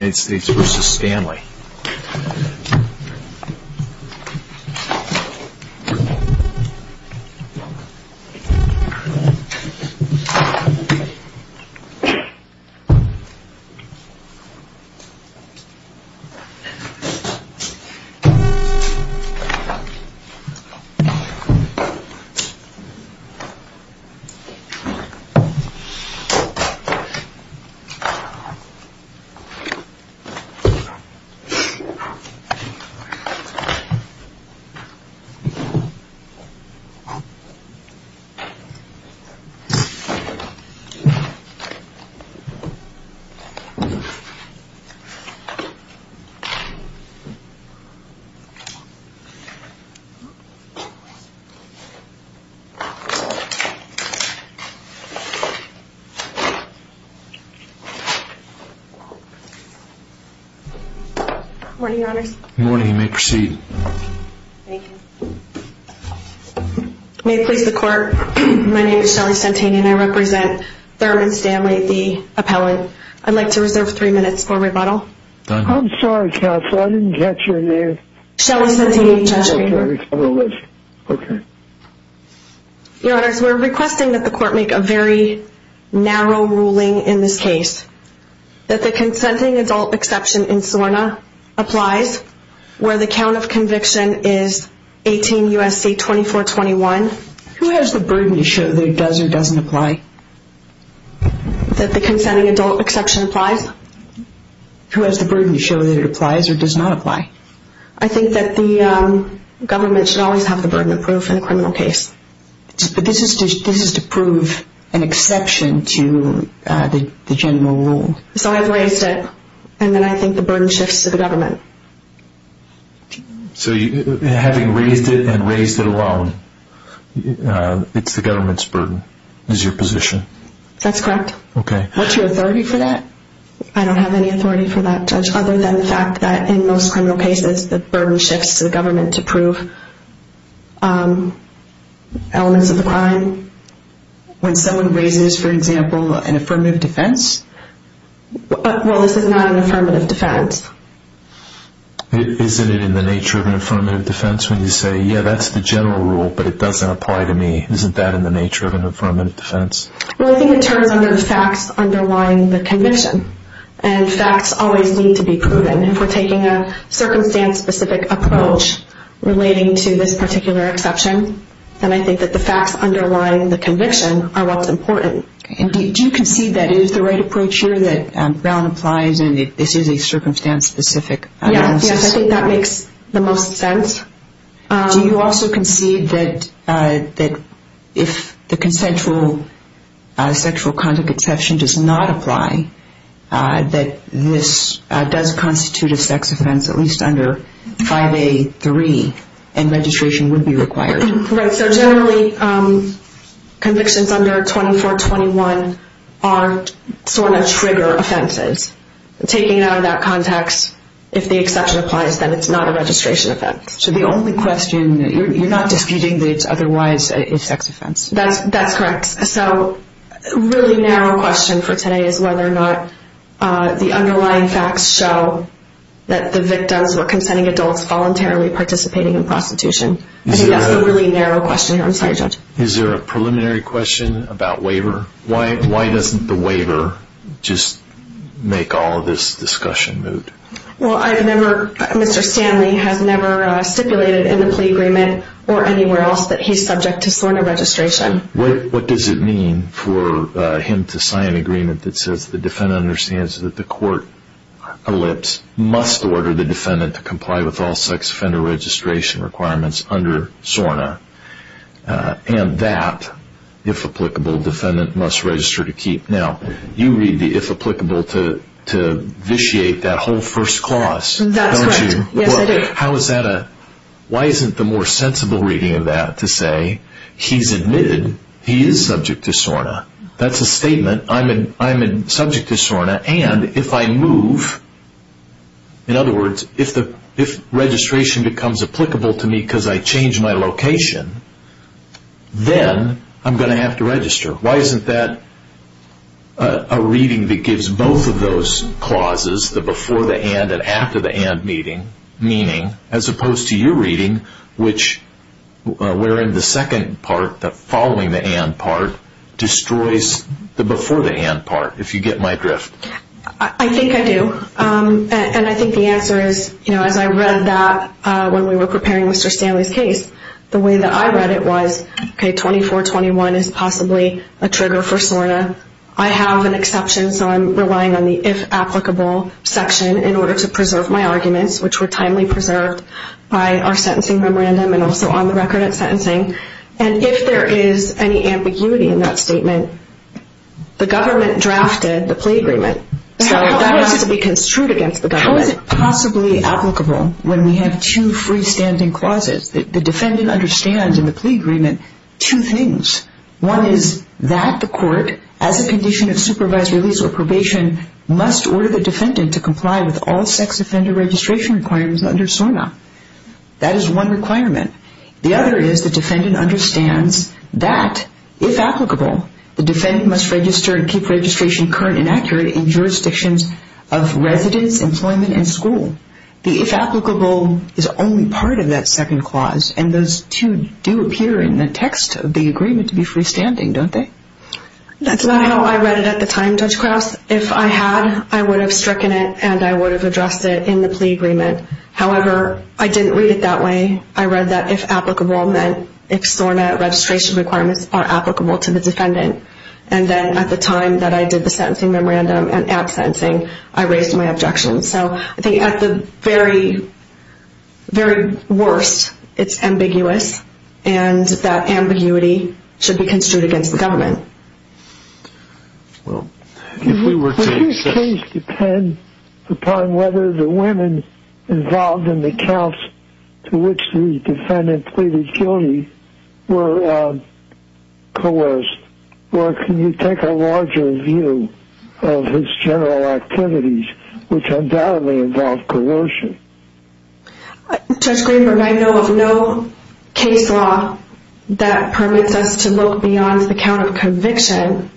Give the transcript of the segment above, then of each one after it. United States v. Stanley United States v. Stanley Good morning, your honors. Good morning, you may proceed. Thank you. May it please the court, my name is Shelly Santini and I represent Thurman Stanley, the appellate. I'd like to reserve three minutes for rebuttal. Done. I'm sorry, counsel, I didn't catch your name. Shelly Santini, judge. Okay. Your honors, we're requesting that the court make a very narrow ruling in this case. That the consenting adult exception in SORNA applies where the count of conviction is 18 U.S.C. 2421. Who has the burden to show that it does or doesn't apply? That the consenting adult exception applies? Who has the burden to show that it applies or does not apply? I think that the government should always have the burden of proof in a criminal case. But this is to prove an exception to the general rule. So I've raised it. And then I think the burden shifts to the government. So having raised it and raised it alone, it's the government's burden. Is your position. That's correct. What's your authority for that? I don't have any authority for that, judge. Other than the fact that in most criminal cases the burden shifts to the government to prove elements of the crime. When someone raises, for example, an affirmative defense, well, this is not an affirmative defense. Isn't it in the nature of an affirmative defense when you say, yeah, that's the general rule, but it doesn't apply to me? Isn't that in the nature of an affirmative defense? Well, I think it turns under the facts underlying the conviction. And facts always need to be proven. If we're taking a circumstance specific approach relating to this particular exception, then I think that the facts underlying the conviction are what's important. Do you concede that it is the right approach here that Brown applies and this is a circumstance specific analysis? Yes, I think that makes the most sense. Do you also concede that if the consensual sexual conduct exception does not apply, that this does constitute a sex offense, at least under 5A.3 and registration would be required? Right, so generally convictions under 2421 are sort of trigger offenses. Taking it out of that context, if the exception applies, then it's not a registration offense. So the only question, you're not disputing that it's otherwise a sex offense? That's correct. So, really narrow question for today is whether or not the underlying facts show that the victims, or the defendants, are committing prostitution. I think that's a really narrow question. Is there a preliminary question about waiver? Why doesn't the waiver just make all of this discussion moot? Well, I remember Mr. Stanley has never stipulated in the plea agreement or anywhere else that he's subject to SORNA registration. What does it mean for him to sign an agreement that says the defendant understands that the court must order the defendant to comply with all sex offender registration requirements under SORNA? And that, if applicable, defendant must register to keep. Now, you read the if applicable to vitiate that whole first clause. That's correct. Why isn't the more sensible reading of that to say he's admitted he is subject to SORNA? That's a statement. I'm subject to SORNA and if I move, in other words, if registration becomes applicable to me because I change my location, then I'm going to have to register. Why isn't that a reading that gives both of those clauses, the before the and and after the and meaning, as opposed to your reading which, wherein the second part, the following the and part, destroys the before the and part, if you get my drift. I think I do. And I think the answer is, as I read that when we were preparing Mr. Stanley's case, the way that I read it was, 2421 is possibly a trigger for SORNA. I have an exception, so I'm relying on the if applicable section in order to preserve my arguments, which were timely preserved by our sentencing memorandum and also on the record at sentencing. And if there is any ambiguity in that statement, then the government drafted the plea agreement. So that has to be construed against the government. How is it possibly applicable when we have two freestanding clauses that the defendant understands in the plea agreement two things. One is that the court, as a condition of supervised release or probation, must order the defendant to comply with all sex offender registration requirements under SORNA. That is one requirement. The other is the defendant understands that, if applicable, the defendant must register and keep registration current and accurate in jurisdictions of residence, employment, and school. The if applicable is only part of that second clause, and those two do appear in the text of the agreement to be freestanding, don't they? That's not how I read it at the time, Judge Krause. If I had, I would have stricken it and I would have addressed it in the plea agreement. However, I didn't read it that way. I read that if applicable all men, if SORNA registration requirements are applicable to the defendant. And then, at the time that I did the sentencing memorandum and absentencing, I raised my objections. So, I think at the very, very worst, it's ambiguous, and that ambiguity should be construed against the government. Well, if we were to... Would this case depend upon whether the women involved in the counts to which the defendant pleaded guilty were coerced? Or can you take a larger view of his general activities which undoubtedly involve coercion? Judge Greenberg, I know of no case law that permits us to look beyond the count of conviction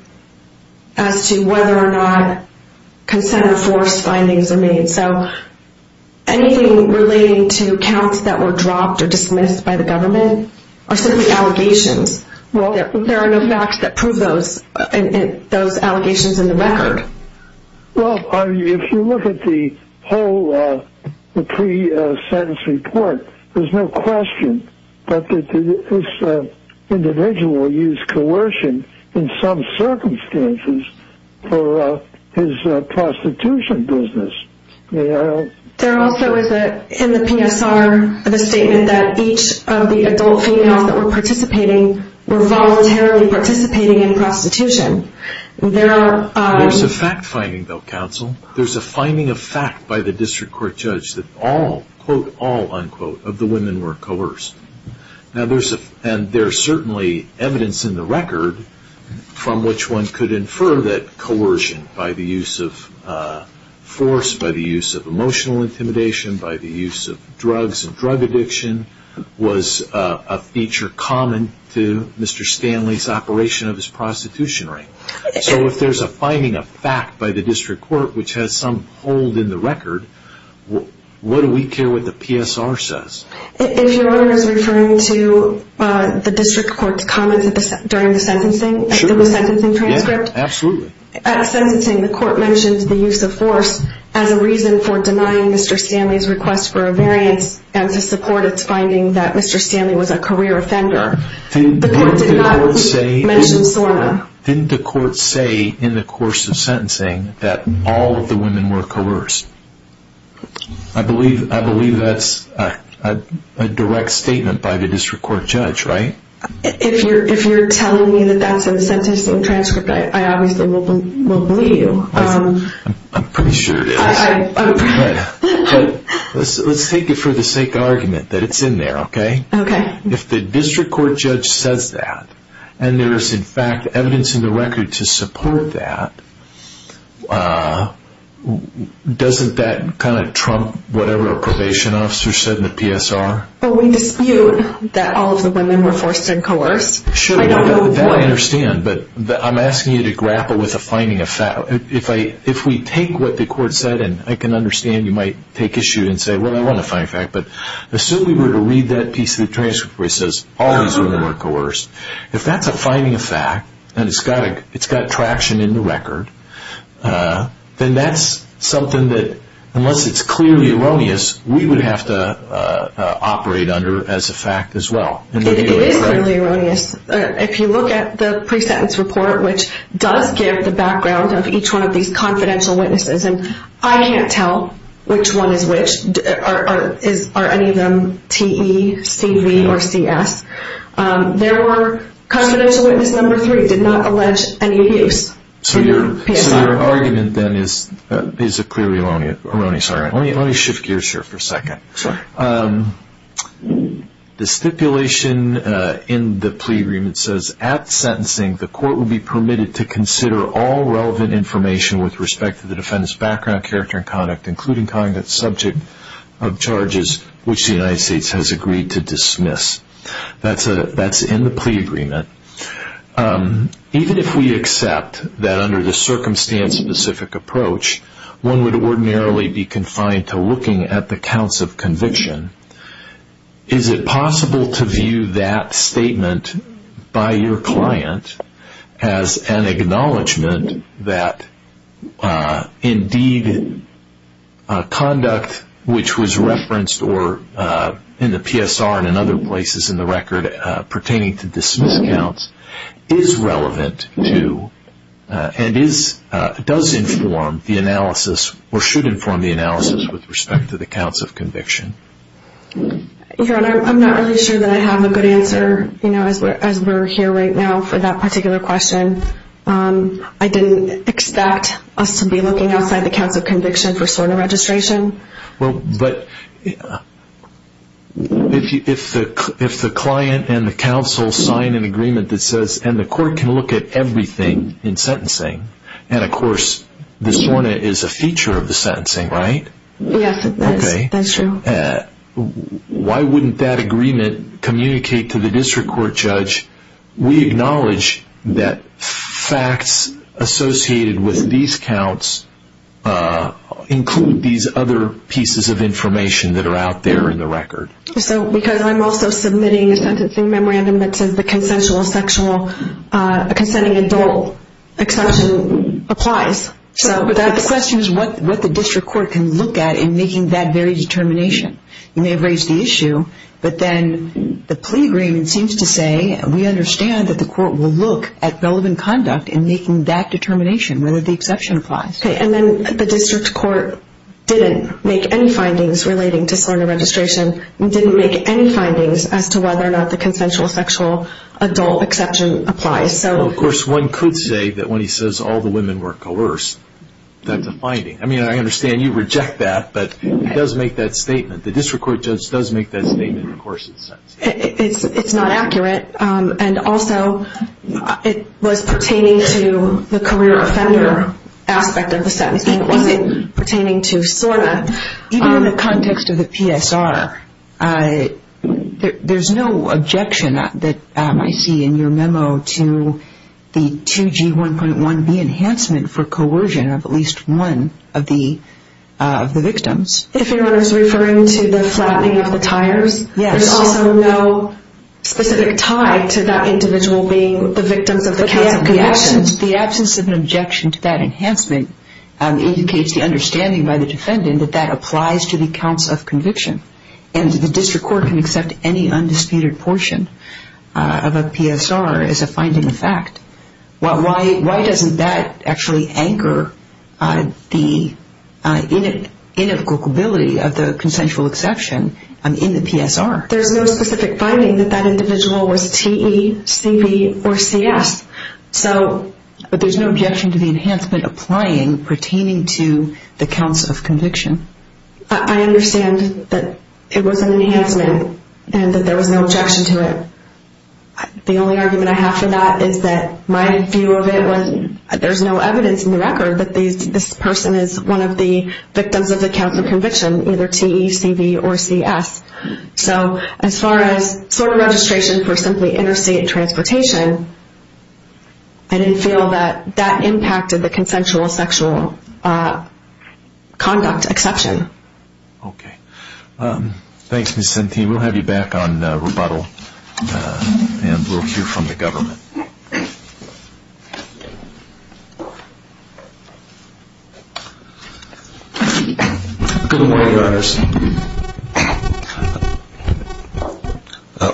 as to whether or not consent or force findings are made. So, anything relating to counts that were dropped or dismissed by the government are simply allegations. There are no facts that prove those allegations in the record. Well, if you look at the whole pre-sentence report, there's no question that this individual used coercion in some circumstances for his prostitution business. There also is in the PSR a statement that each of the adult females that were participating were voluntarily participating in prostitution. There's a fact finding, though, counsel. There's a finding of fact by the district court judge that all, quote, all, unquote, of the women were coerced. And there's certainly evidence in the record from which one could infer that coercion by the use of force, by the use of emotional intimidation, by the use of drugs and drug addiction was a feature common to Mr. Stanley's operation of his prostitution ring. So, if there's a finding of fact by the district court, which has some hold in the record, what do we care what the PSR says? If your Honor is referring to the district court's comments during the sentencing transcript, at sentencing the court mentions the use of force as a reason for denying Mr. Stanley's request for a variance and to support its finding that Mr. Stanley was a career offender. The court did not mention SORNA. Didn't the court say in the course of sentencing that all of the women were coerced? I believe that's a direct statement by the district court judge, right? If you're telling me that that's in the sentencing transcript, I obviously will believe you. I'm pretty sure it is. Let's take it for the sake of argument that it's in there, okay? If the district court judge says that and there is in fact evidence in the record to support that, doesn't that kind of trump whatever a probation officer said in the PSR? We dispute that all of the women were forced and coerced. That I understand, but I'm asking you to grapple with a finding of fact. If we take what the court said and I can understand you might take issue and say, well, I want to find a fact, but assume we were to read that piece of the transcript where it says all of the women were coerced. If that's a finding of fact and it's got traction in the record, then that's something that, unless it's clearly erroneous, we would have to operate under as a fact as well. It is clearly erroneous. If you look at the pre-sentence report, which does give the background of each one of these confidential witnesses, and I can't tell which one is which. Are any of them TE, CV, or CS? Confidential witness number three did not allege any abuse. So your argument then is clearly erroneous. Let me shift gears here for a second. The stipulation in the plea agreement says, at sentencing, the court would be permitted to consider all relevant information with respect to the defendant's background, character, and conduct, including conduct subject of charges which the United States has agreed to dismiss. That's in the plea agreement. Even if we accept that under the circumstance-specific approach, one would ordinarily be confined to looking at the counts of conviction, is it possible to view that statement by your client as an acknowledgment that indeed conduct which was referenced in the PSR and in other places in the record pertaining to dismiss counts is relevant to and does inform the analysis or should inform the analysis of the counts of conviction? Your Honor, I'm not really sure that I have a good answer as we're here right now for that particular question. I didn't expect us to be looking outside the counts of conviction for SORNA registration. But if the client and the counsel sign an agreement that says, and the court can look at everything in sentencing, and of course the SORNA is a feature of the sentencing, right? Yes, that's true. Why wouldn't that agreement communicate to the district court judge, we acknowledge that facts associated with these counts include these other pieces of information that are out there in the record. Because I'm also submitting a sentencing memorandum that says the consensual sexual consenting adult exception applies. So the question is what the district court can look at in making that very determination. You may have raised the issue, but then the plea agreement seems to say we understand that the court will look at relevant conduct in making that determination whether the exception applies. And then the district court didn't make any findings relating to SORNA registration, didn't make any findings as to whether or not the consensual sexual adult exception applies. Of course one could say that when he says all the women were coerced that's a finding. I mean I understand you reject that, but it does make that statement. The district court judge does make that statement in the course of the sentence. It's not accurate. And also it was pertaining to the career offender aspect of the sentencing. It wasn't pertaining to SORNA. Even in the context of the PSR there's no objection that I see in your memo to the 2G 1.1B enhancement for coercion of at least one of the victims. If you're referring to the flattening of the tires, there's also no specific tie to that individual being the victims of the counts of conviction. The absence of an objection to that enhancement indicates the understanding by the defendant that that applies to the counts of conviction. And the district court can accept any undisputed portion of a PSR as a finding of fact. Why doesn't that actually anchor the inevitability of the consensual exception in the PSR? There's no specific finding that that individual was TE, CB, or CS. But there's no objection to the enhancement applying pertaining to the counts of conviction. I understand that it was an enhancement and that there was no objection to it. The only argument I have for that is that my view of it was there's no evidence in the record that this person is one of the victims of the counts of conviction either TE, CB, or CS. So as far as sort of registration for simply interstate transportation, I didn't feel that that impacted the consensual sexual conduct exception. Okay. Thanks, Ms. Centine. We'll have you back on rebuttal and we'll hear from the government. Good morning, Your Honors.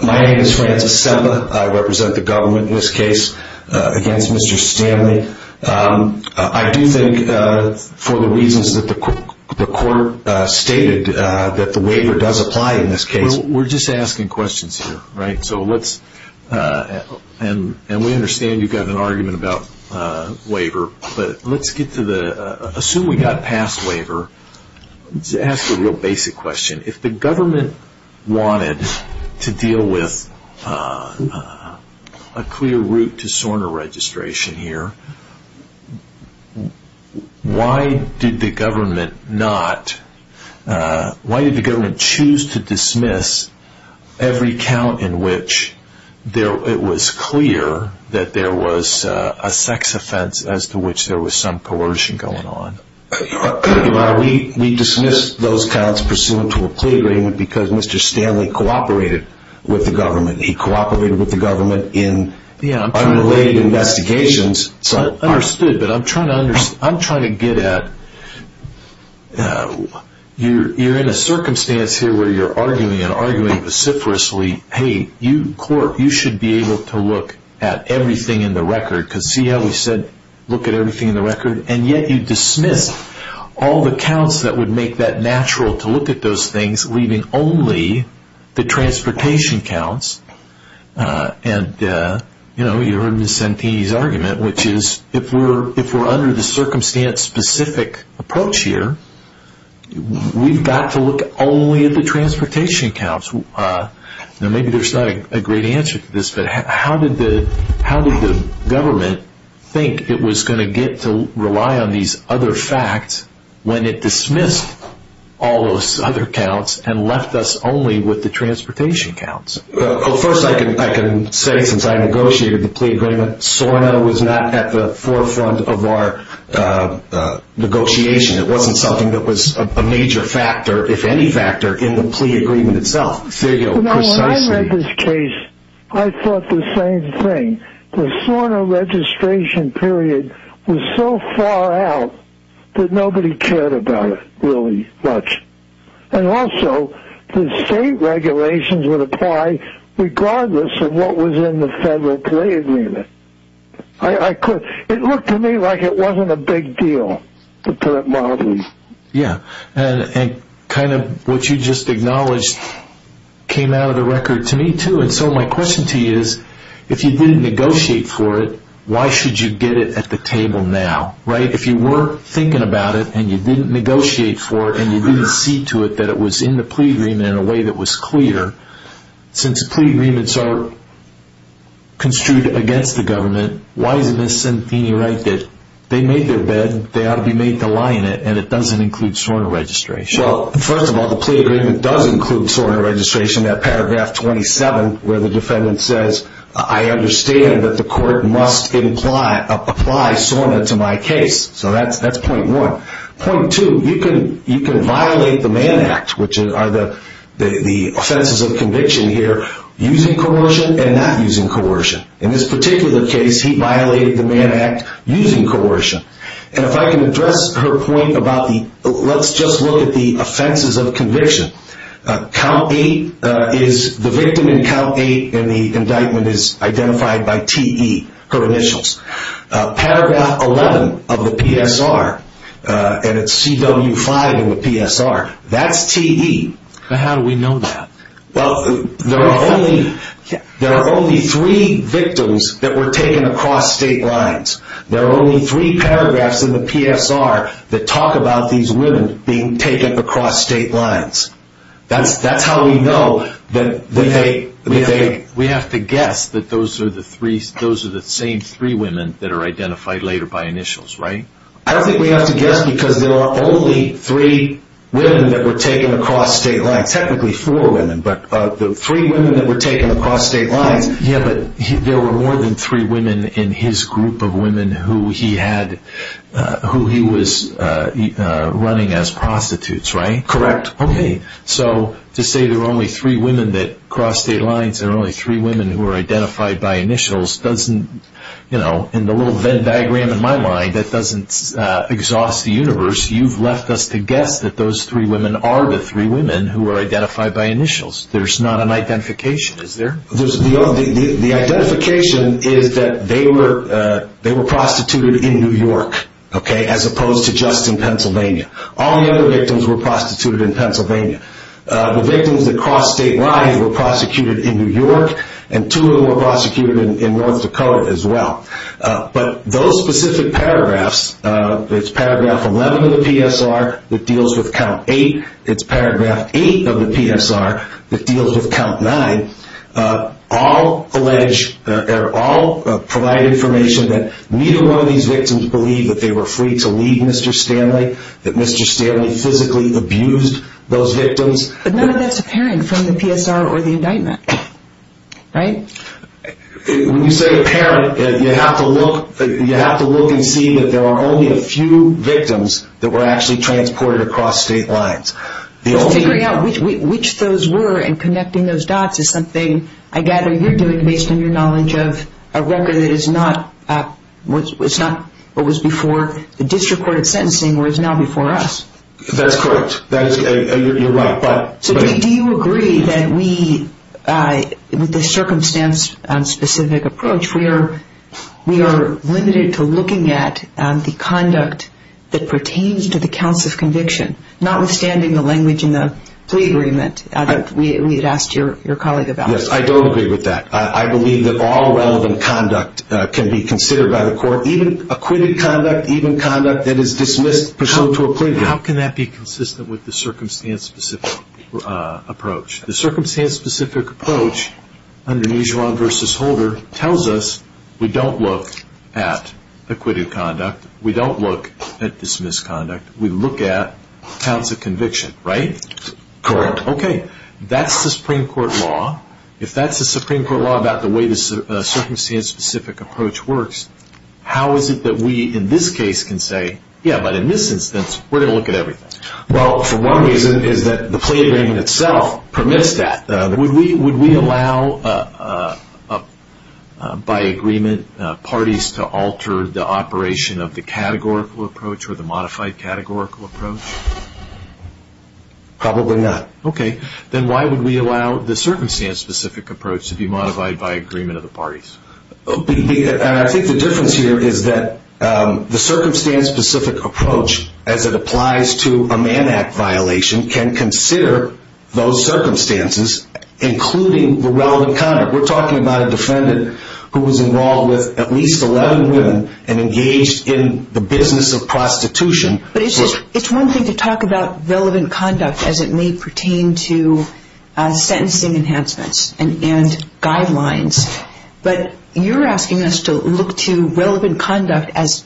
My name is Francis Semba. I represent the government in this case against Mr. Stanley. I do think for the reasons that the court stated that the waiver does apply in this case. We're just asking questions here. So let's and we understand you've got an argument about waiver, but let's get to the... Assume we got past waiver. Let's ask a real basic question. If the government wanted to deal with a clear route to SORNA registration here, why did the government not... Why did the government choose to dismiss every count in which it was clear that there was a sex offense as to which there was some coercion going on? Your Honor, we dismissed those counts pursuant to a plea agreement because Mr. Stanley cooperated with the government. He cooperated with the government in unrelated investigations. Understood, but I'm trying to get at... You're in a circumstance here where you're arguing and arguing vociferously hey, you should be able to look at everything in the record because see how we said look at everything in the record and yet you dismiss all the counts that would make that natural to look at those things leaving only the transportation counts and you heard Ms. Santini's argument which is if we're under the circumstance specific approach here we've got to look only at the transportation counts. Maybe there's not a great answer to this, but how did the government think it was going to get to rely on these other facts when it dismissed all those other counts and left us only with the transportation counts? First I can say since I negotiated the plea agreement SORNA was not at the forefront of our negotiation. It wasn't something that was a major factor, if any factor in the plea agreement itself. When I read this case I thought the same thing. The SORNA registration period was so far out that nobody cared about it really much. And also the state regulations would apply regardless of what was in the federal plea agreement. It looked to me like it wasn't a big deal to put it mildly. Yeah, and kind of what you just acknowledged came out of the record to me too and so my question to you is if you didn't negotiate for it why should you get it at the table now? If you were thinking about it and you didn't negotiate for it and you didn't see to it that it was in the plea agreement in a way that was clear since plea agreements are construed against the government, why is Ms. Santini right that they made their bed they ought to be made to lie in it and it doesn't include SORNA registration? First of all, the plea agreement does include SORNA registration. That paragraph 27 where the defendant says I understand that the court must apply SORNA to my case. So that's point one. Point two, you can violate the Mann Act which are the offenses of conviction here using coercion and not using coercion. In this particular case he violated the Mann Act using coercion. And if I can address her point about the let's just look at the offenses of conviction. Count 8 is the victim in count 8 and the indictment is identified by TE, her initials. Paragraph 11 of the PSR and it's CW5 in the PSR that's TE. How do we know that? There are only three victims that were taken across state lines. There are only three paragraphs in the PSR that talk about these women being taken across state lines. That's how we know that they We have to guess that those are the same three women that are identified later by initials, right? I don't think we have to guess because there are only three women that were taken across state lines. Technically four women, but the three women that were taken across state lines Yeah, but there were more than three women in his group of women who he had, who he was running as prostitutes, right? Correct. So to say there were only three women that crossed state lines and only three women who were identified by initials doesn't, you know, in the little Venn diagram in my mind, that doesn't exhaust the universe. You've left us to guess that those three women are the three women who were identified by initials. There's not an identification. Is there? The identification is that they were prostituted in New York as opposed to just in Pennsylvania. All the other victims were prostituted in Pennsylvania. The victims that crossed state lines were prosecuted in New York and two of them were prosecuted in North Dakota as well. But those specific paragraphs it's paragraph 11 of the PSR that deals with count 8 it's paragraph 8 of the PSR that deals with count 9 all allege or all provide information that neither one of these victims believed that they were free to leave Mr. Stanley, that Mr. Stanley physically abused those victims But none of that's apparent from the PSR or the indictment. Right? When you say apparent, you have to look you have to look and see that there are only a few victims that were actually transported across state lines. Figuring out which those were and connecting those dots is something I gather you're doing based on your knowledge of a record that is not what was before the district court of sentencing where it's now before us. That's correct. You're right. Do you agree that we with the circumstance specific approach we are limited to looking at the conduct that pertains to the counts of conviction, notwithstanding the language in the plea agreement that we had asked your colleague about. Yes, I don't agree with that. I believe that all relevant conduct can be considered by the court, even acquitted conduct, even conduct that is dismissed pursuant to a plea. How can that be consistent with the circumstance specific approach? The circumstance specific approach under Nijuan v. Holder tells us we don't look at acquitted conduct, we don't look at dismissed conduct, we look at counts of conviction, right? Correct. Okay. That's the Supreme Court law. If that's the Supreme Court law about the way the circumstance specific approach works how is it that we in this case can say, yeah, but in this instance we're going to look at everything. Well, for one reason is that the plea agreement itself permits that. Would we allow by agreement parties to alter the operation of the categorical approach or the modified categorical approach? Probably not. Okay. Then why would we allow the circumstance specific approach to be modified by agreement of the parties? I think the difference here is that the circumstance specific approach as it applies to a man act violation can consider those circumstances including the relevant conduct. We're talking about a defendant who was involved with at least 11 women and engaged in the business of prostitution. But it's one thing to talk about relevant conduct as it may pertain to sentencing enhancements and guidelines. But you're asking us to look to relevant conduct as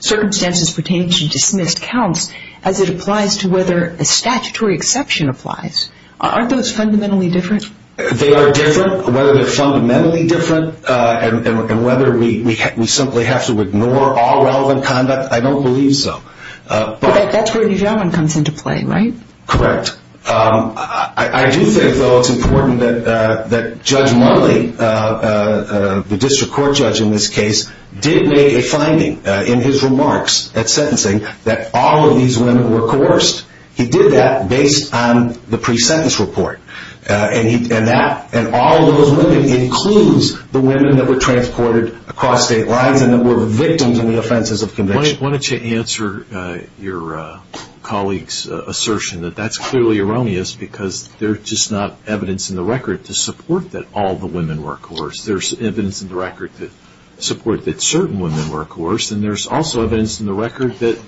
circumstances pertain to dismissed counts as it applies to whether a statutory exception applies. Aren't those fundamentally different? They are different. Whether they're fundamentally different and whether we simply have to ignore all relevant conduct, I don't believe so. But that's where New Zealand comes into play, right? Correct. I do think, though, it's important that Judge Murley, the district court judge in this case, did make a finding in his remarks at sentencing that all of these women were coerced. He did that based on the pre-sentence report. And all of those women includes the women that were transported across state lines and that were victims of the offenses of conviction. Why don't you answer your colleague's assertion that that's clearly erroneous because there's just not evidence in the record to support that all the women were coerced. There's evidence in the record to support that certain women were coerced. And there's also evidence in the record that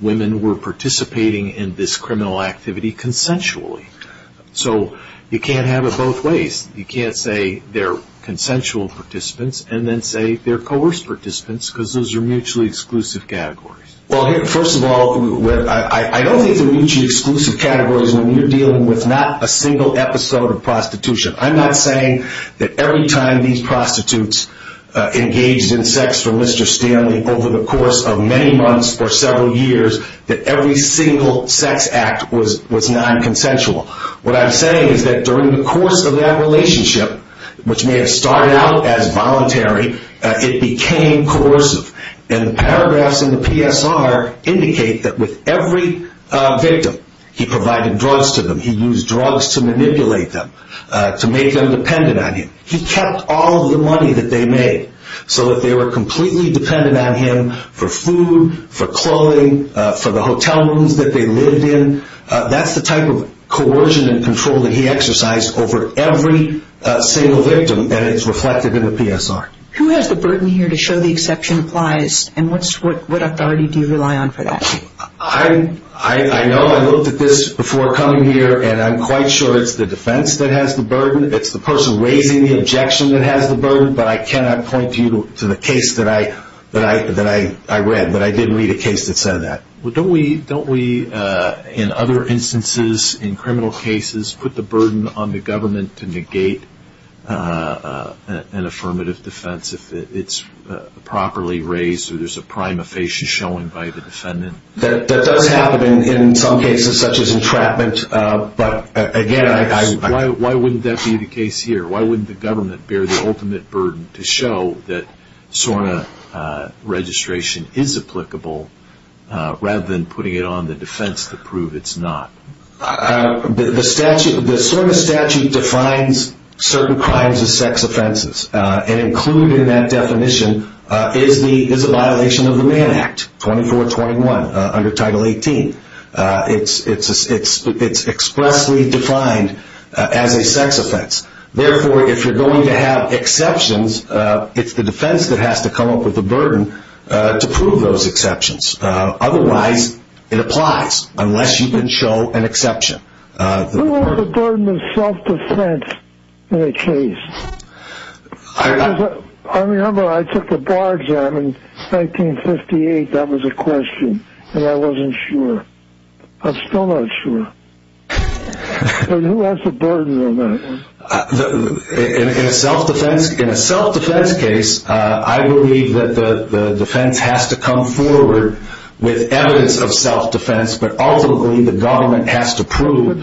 women were participating in this criminal activity consensually. So you can't have it both ways. You can't say they're consensual participants and then say they're coerced participants because those are mutually exclusive categories. Well, first of all, I don't think they're mutually exclusive categories when you're dealing with not a single episode of prostitution. I'm not saying that every time these prostitutes engaged in sex for Mr. Stanley over the course of many months or several years that every single sex act was non-consensual. What I'm saying is that during the course of that relationship, which may have started out as voluntary, it became coercive. And the paragraphs in the PSR indicate that with every victim, he provided drugs to them. He used drugs to manipulate them, to make them dependent on him. He kept all of the money that they made so that they were completely dependent on him for food, for clothing, for the hotel rooms that they lived in. That's the type of coercion and control that he exercised over every single victim, and it's reflected in the PSR. Who has the burden here to show the exception applies, and what authority do you rely on for that? I know. I looked at this before coming here, and I'm quite sure it's the defense that has the burden. It's the person raising the objection that has the burden, but I cannot point you to the case that I read, that I didn't read a case that said that. Don't we, in other instances, in criminal cases, put the burden on the government to negate an affirmative defense if it's properly raised, or there's a prime affation showing by the defendant? That does happen in some cases, such as entrapment, but again, I... Why wouldn't that be the case here? Why wouldn't the government bear the ultimate burden to show that SORNA registration is applicable rather than putting it on the defense to prove it's not? The SORNA statute defines certain crimes as sex offenses, and included in that definition is a violation of the Mann Act, 2421, under Title 18. It's expressly defined as a sex offense. Therefore, if you're going to have exceptions, it's the defense that has to come up with the burden to prove those exceptions. Otherwise, it applies, unless you can show an exception. Who has the burden of self-defense in a case? I remember I took the bar exam in 1958. That was a question, and I wasn't sure. I'm still not sure. Who has the burden of that? In a self-defense case, I believe that the defense has to come forward with evidence of self-defense, but ultimately, the government has to prove...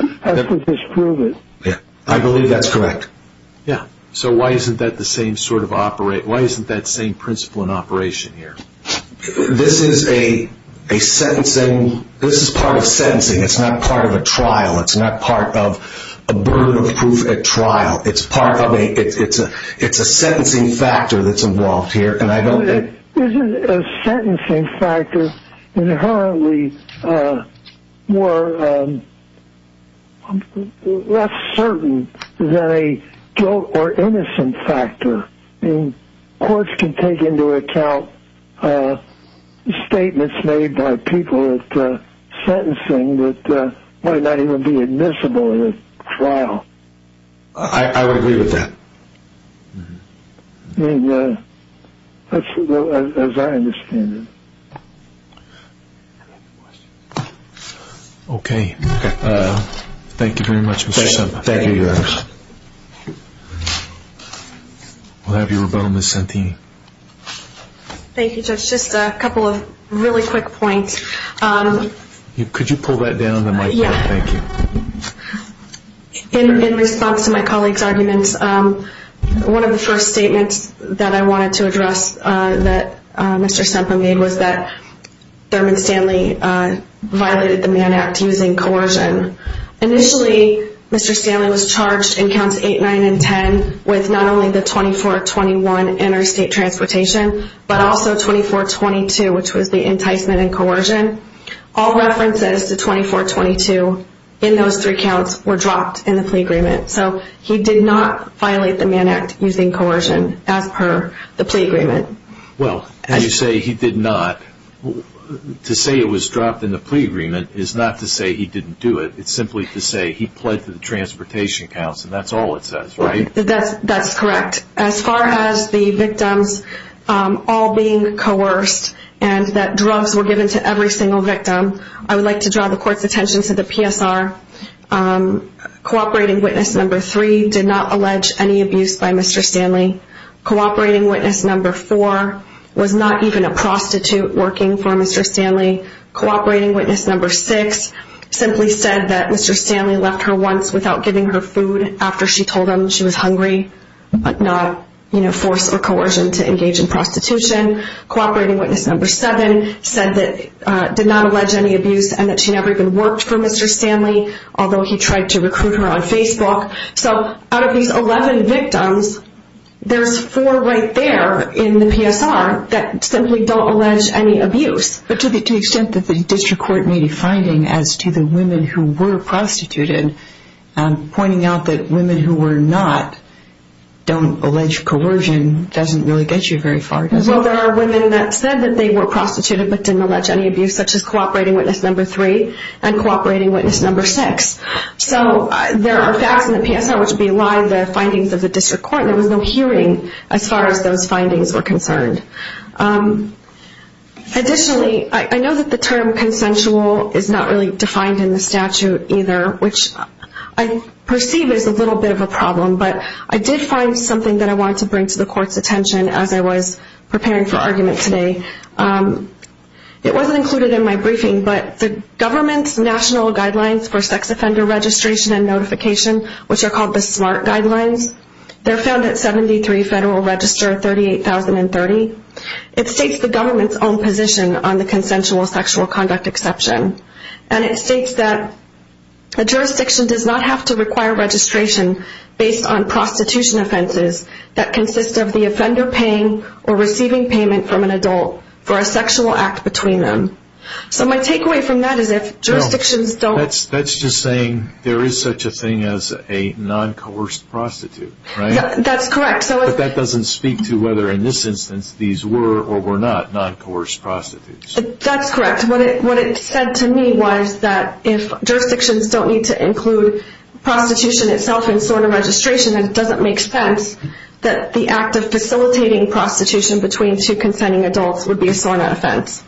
I believe that's correct. Why isn't that the same principle in operation here? This is a part of sentencing. It's not part of a trial. It's not part of a burden of proof at trial. It's a sentencing factor that's involved here. Isn't a sentencing factor inherently more... more important than a guilt or innocence factor? Courts can take into account statements made by people at sentencing that might not even be admissible at a trial. I would agree with that. As I understand it. Okay. Ms. Santini. Thank you very much, Mr. Semper. Thank you. We'll have you rebuttal, Ms. Santini. Thank you, Judge. Just a couple of really quick points. Could you pull that down the microphone? In response to my colleague's arguments, one of the first statements that I wanted to address that Mr. Semper made was that of coercion. Initially, Mr. Stanley was charged in counts 8, 9, and 10 with not only the 24-21 interstate transportation, but also 24-22, which was the enticement and coercion. All references to 24-22 in those three counts were dropped in the plea agreement. So he did not violate the Mann Act using coercion as per the plea agreement. Well, as you say, he did not. To say it was he didn't do it, it's simply to say he pled to the transportation counts, and that's all it says, right? That's correct. As far as the victims all being coerced and that drugs were given to every single victim, I would like to draw the court's attention to the PSR. Cooperating witness number 3 did not allege any abuse by Mr. Stanley. Cooperating witness number 4 was not even a prostitute working for Mr. Stanley. Cooperating witness number 6 simply said that Mr. Stanley left her once without giving her food after she told him she was hungry but not, you know, force or coercion to engage in prostitution. Cooperating witness number 7 said that, did not allege any abuse and that she never even worked for Mr. Stanley, although he tried to recruit her on Facebook. So, out of these 11 victims, there's 4 right there in the PSR that simply don't To the extent that the district court made a finding as to the women who were prostituted, pointing out that women who were not don't allege coercion doesn't really get you very far, does it? Well, there are women that said that they were prostituted but didn't allege any abuse, such as cooperating witness number 3 and cooperating witness number 6. So, there are facts in the PSR which belied the findings of the district court. There was no hearing as far as those findings were concerned. Additionally, I know that the term consensual is not really defined in the statute either, which I perceive is a little bit of a problem, but I did find something that I wanted to bring to the court's attention as I was preparing for argument today. It wasn't included in my briefing, but the government's national guidelines for sex offender registration and notification, which are called the SMART guidelines, they're found at 73 Federal Register 38,030. It states the government's own position on the consensual sexual conduct exception. And it states that a jurisdiction does not have to require registration based on prostitution offenses that consist of the offender paying or receiving payment from an adult for a sexual act between them. So, my takeaway from that is if jurisdictions don't... That's just saying there is such a thing as a non-coerced prostitute, right? That's correct. But that doesn't speak to whether in this instance these were or were not non-coerced prostitutes. That's correct. What it said to me was that if jurisdictions don't need to include prostitution itself in SORNA registration and it doesn't make sense that the act of facilitating prostitution between two consenting adults would be a SORNA offense.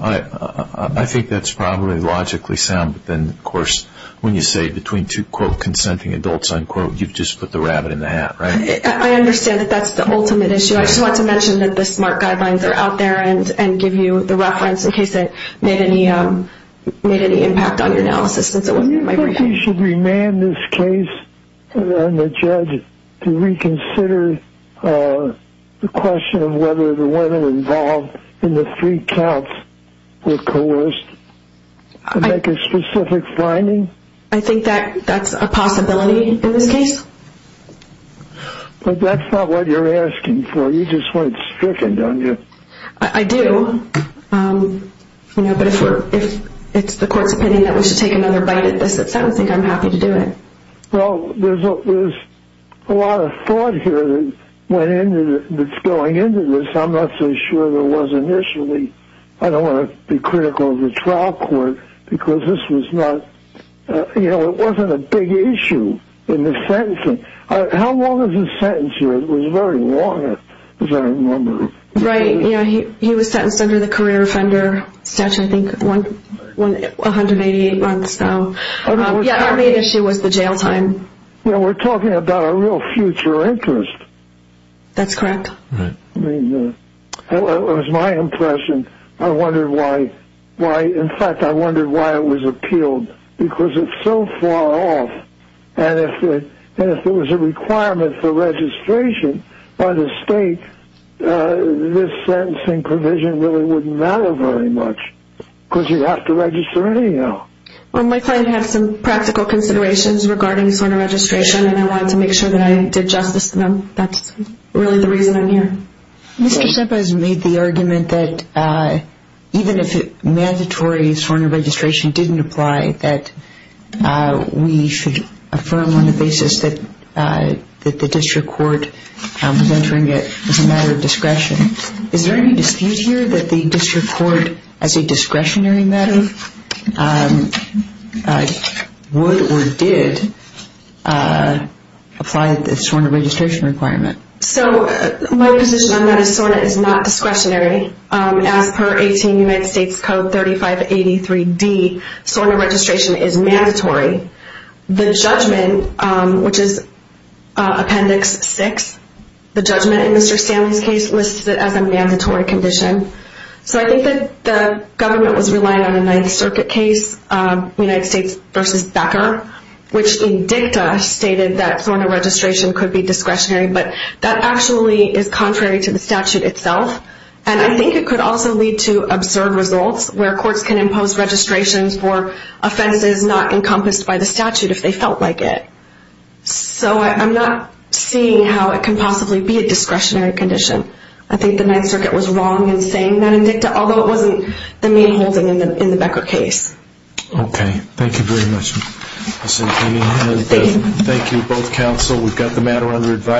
I think that's probably logically sound, but then, of course, when you say between two, quote, consenting adults, unquote, you've just put the rabbit in the hat, right? I understand that that's the ultimate issue. I just want to mention that the SMART guidelines are out there and give you the reference in case it made any impact on your analysis since it wasn't in my briefing. Do you think we should remand this case on the judge to reconsider the question of whether the women involved in the three counts were coerced to make a specific finding? I think that's a possibility in this case. But that's not what you're asking for. You just want it stricken, don't you? I do. But if it's the court's opinion that we should take another bite at this, I would think I'm happy to do it. Well, there's a lot of thought here that's going into this. I'm not so sure there was initially. I don't want to be critical of the trial court because this was not a big issue in the sentencing. How long was the sentence here? It was very long, as I remember. Right. He was sentenced under the career offender statute, I think 188 months. Part of the issue was the jail time. We're talking about a real future interest. That's correct. It was my impression. I wondered why, in fact, I wondered why it was appealed. Because it's so far off. And if it was a requirement for registration by the state, this sentencing provision really wouldn't matter very much. Because you'd have to register anyhow. Well, my client had some practical considerations regarding SORNA registration and I wanted to make sure that I did justice to them. That's really the reason I'm here. Mr. Shipp has made the point that even if mandatory SORNA registration didn't apply, that we should affirm on the basis that the district court was entering it as a matter of discretion. Is there any dispute here that the district court as a discretionary matter would or did apply the SORNA registration requirement? My position on that is SORNA is not in United States Code 3583D SORNA registration is mandatory. The judgment which is Appendix 6 the judgment in Mr. Stanley's case lists it as a mandatory condition. So I think that the government was relying on the 9th Circuit case United States v. Becker which in dicta stated that SORNA registration could be discretionary but that actually is contrary to the statute itself. And I think it could also lead to absurd results where courts can impose registrations for offenses not encompassed by the statute if they felt like it. So I'm not seeing how it can possibly be a discretionary condition. I think the 9th Circuit was wrong in saying that in dicta, although it wasn't the main holding in the Becker case. Okay. Thank you very much. Thank you both counsel. We've got the matter under advice.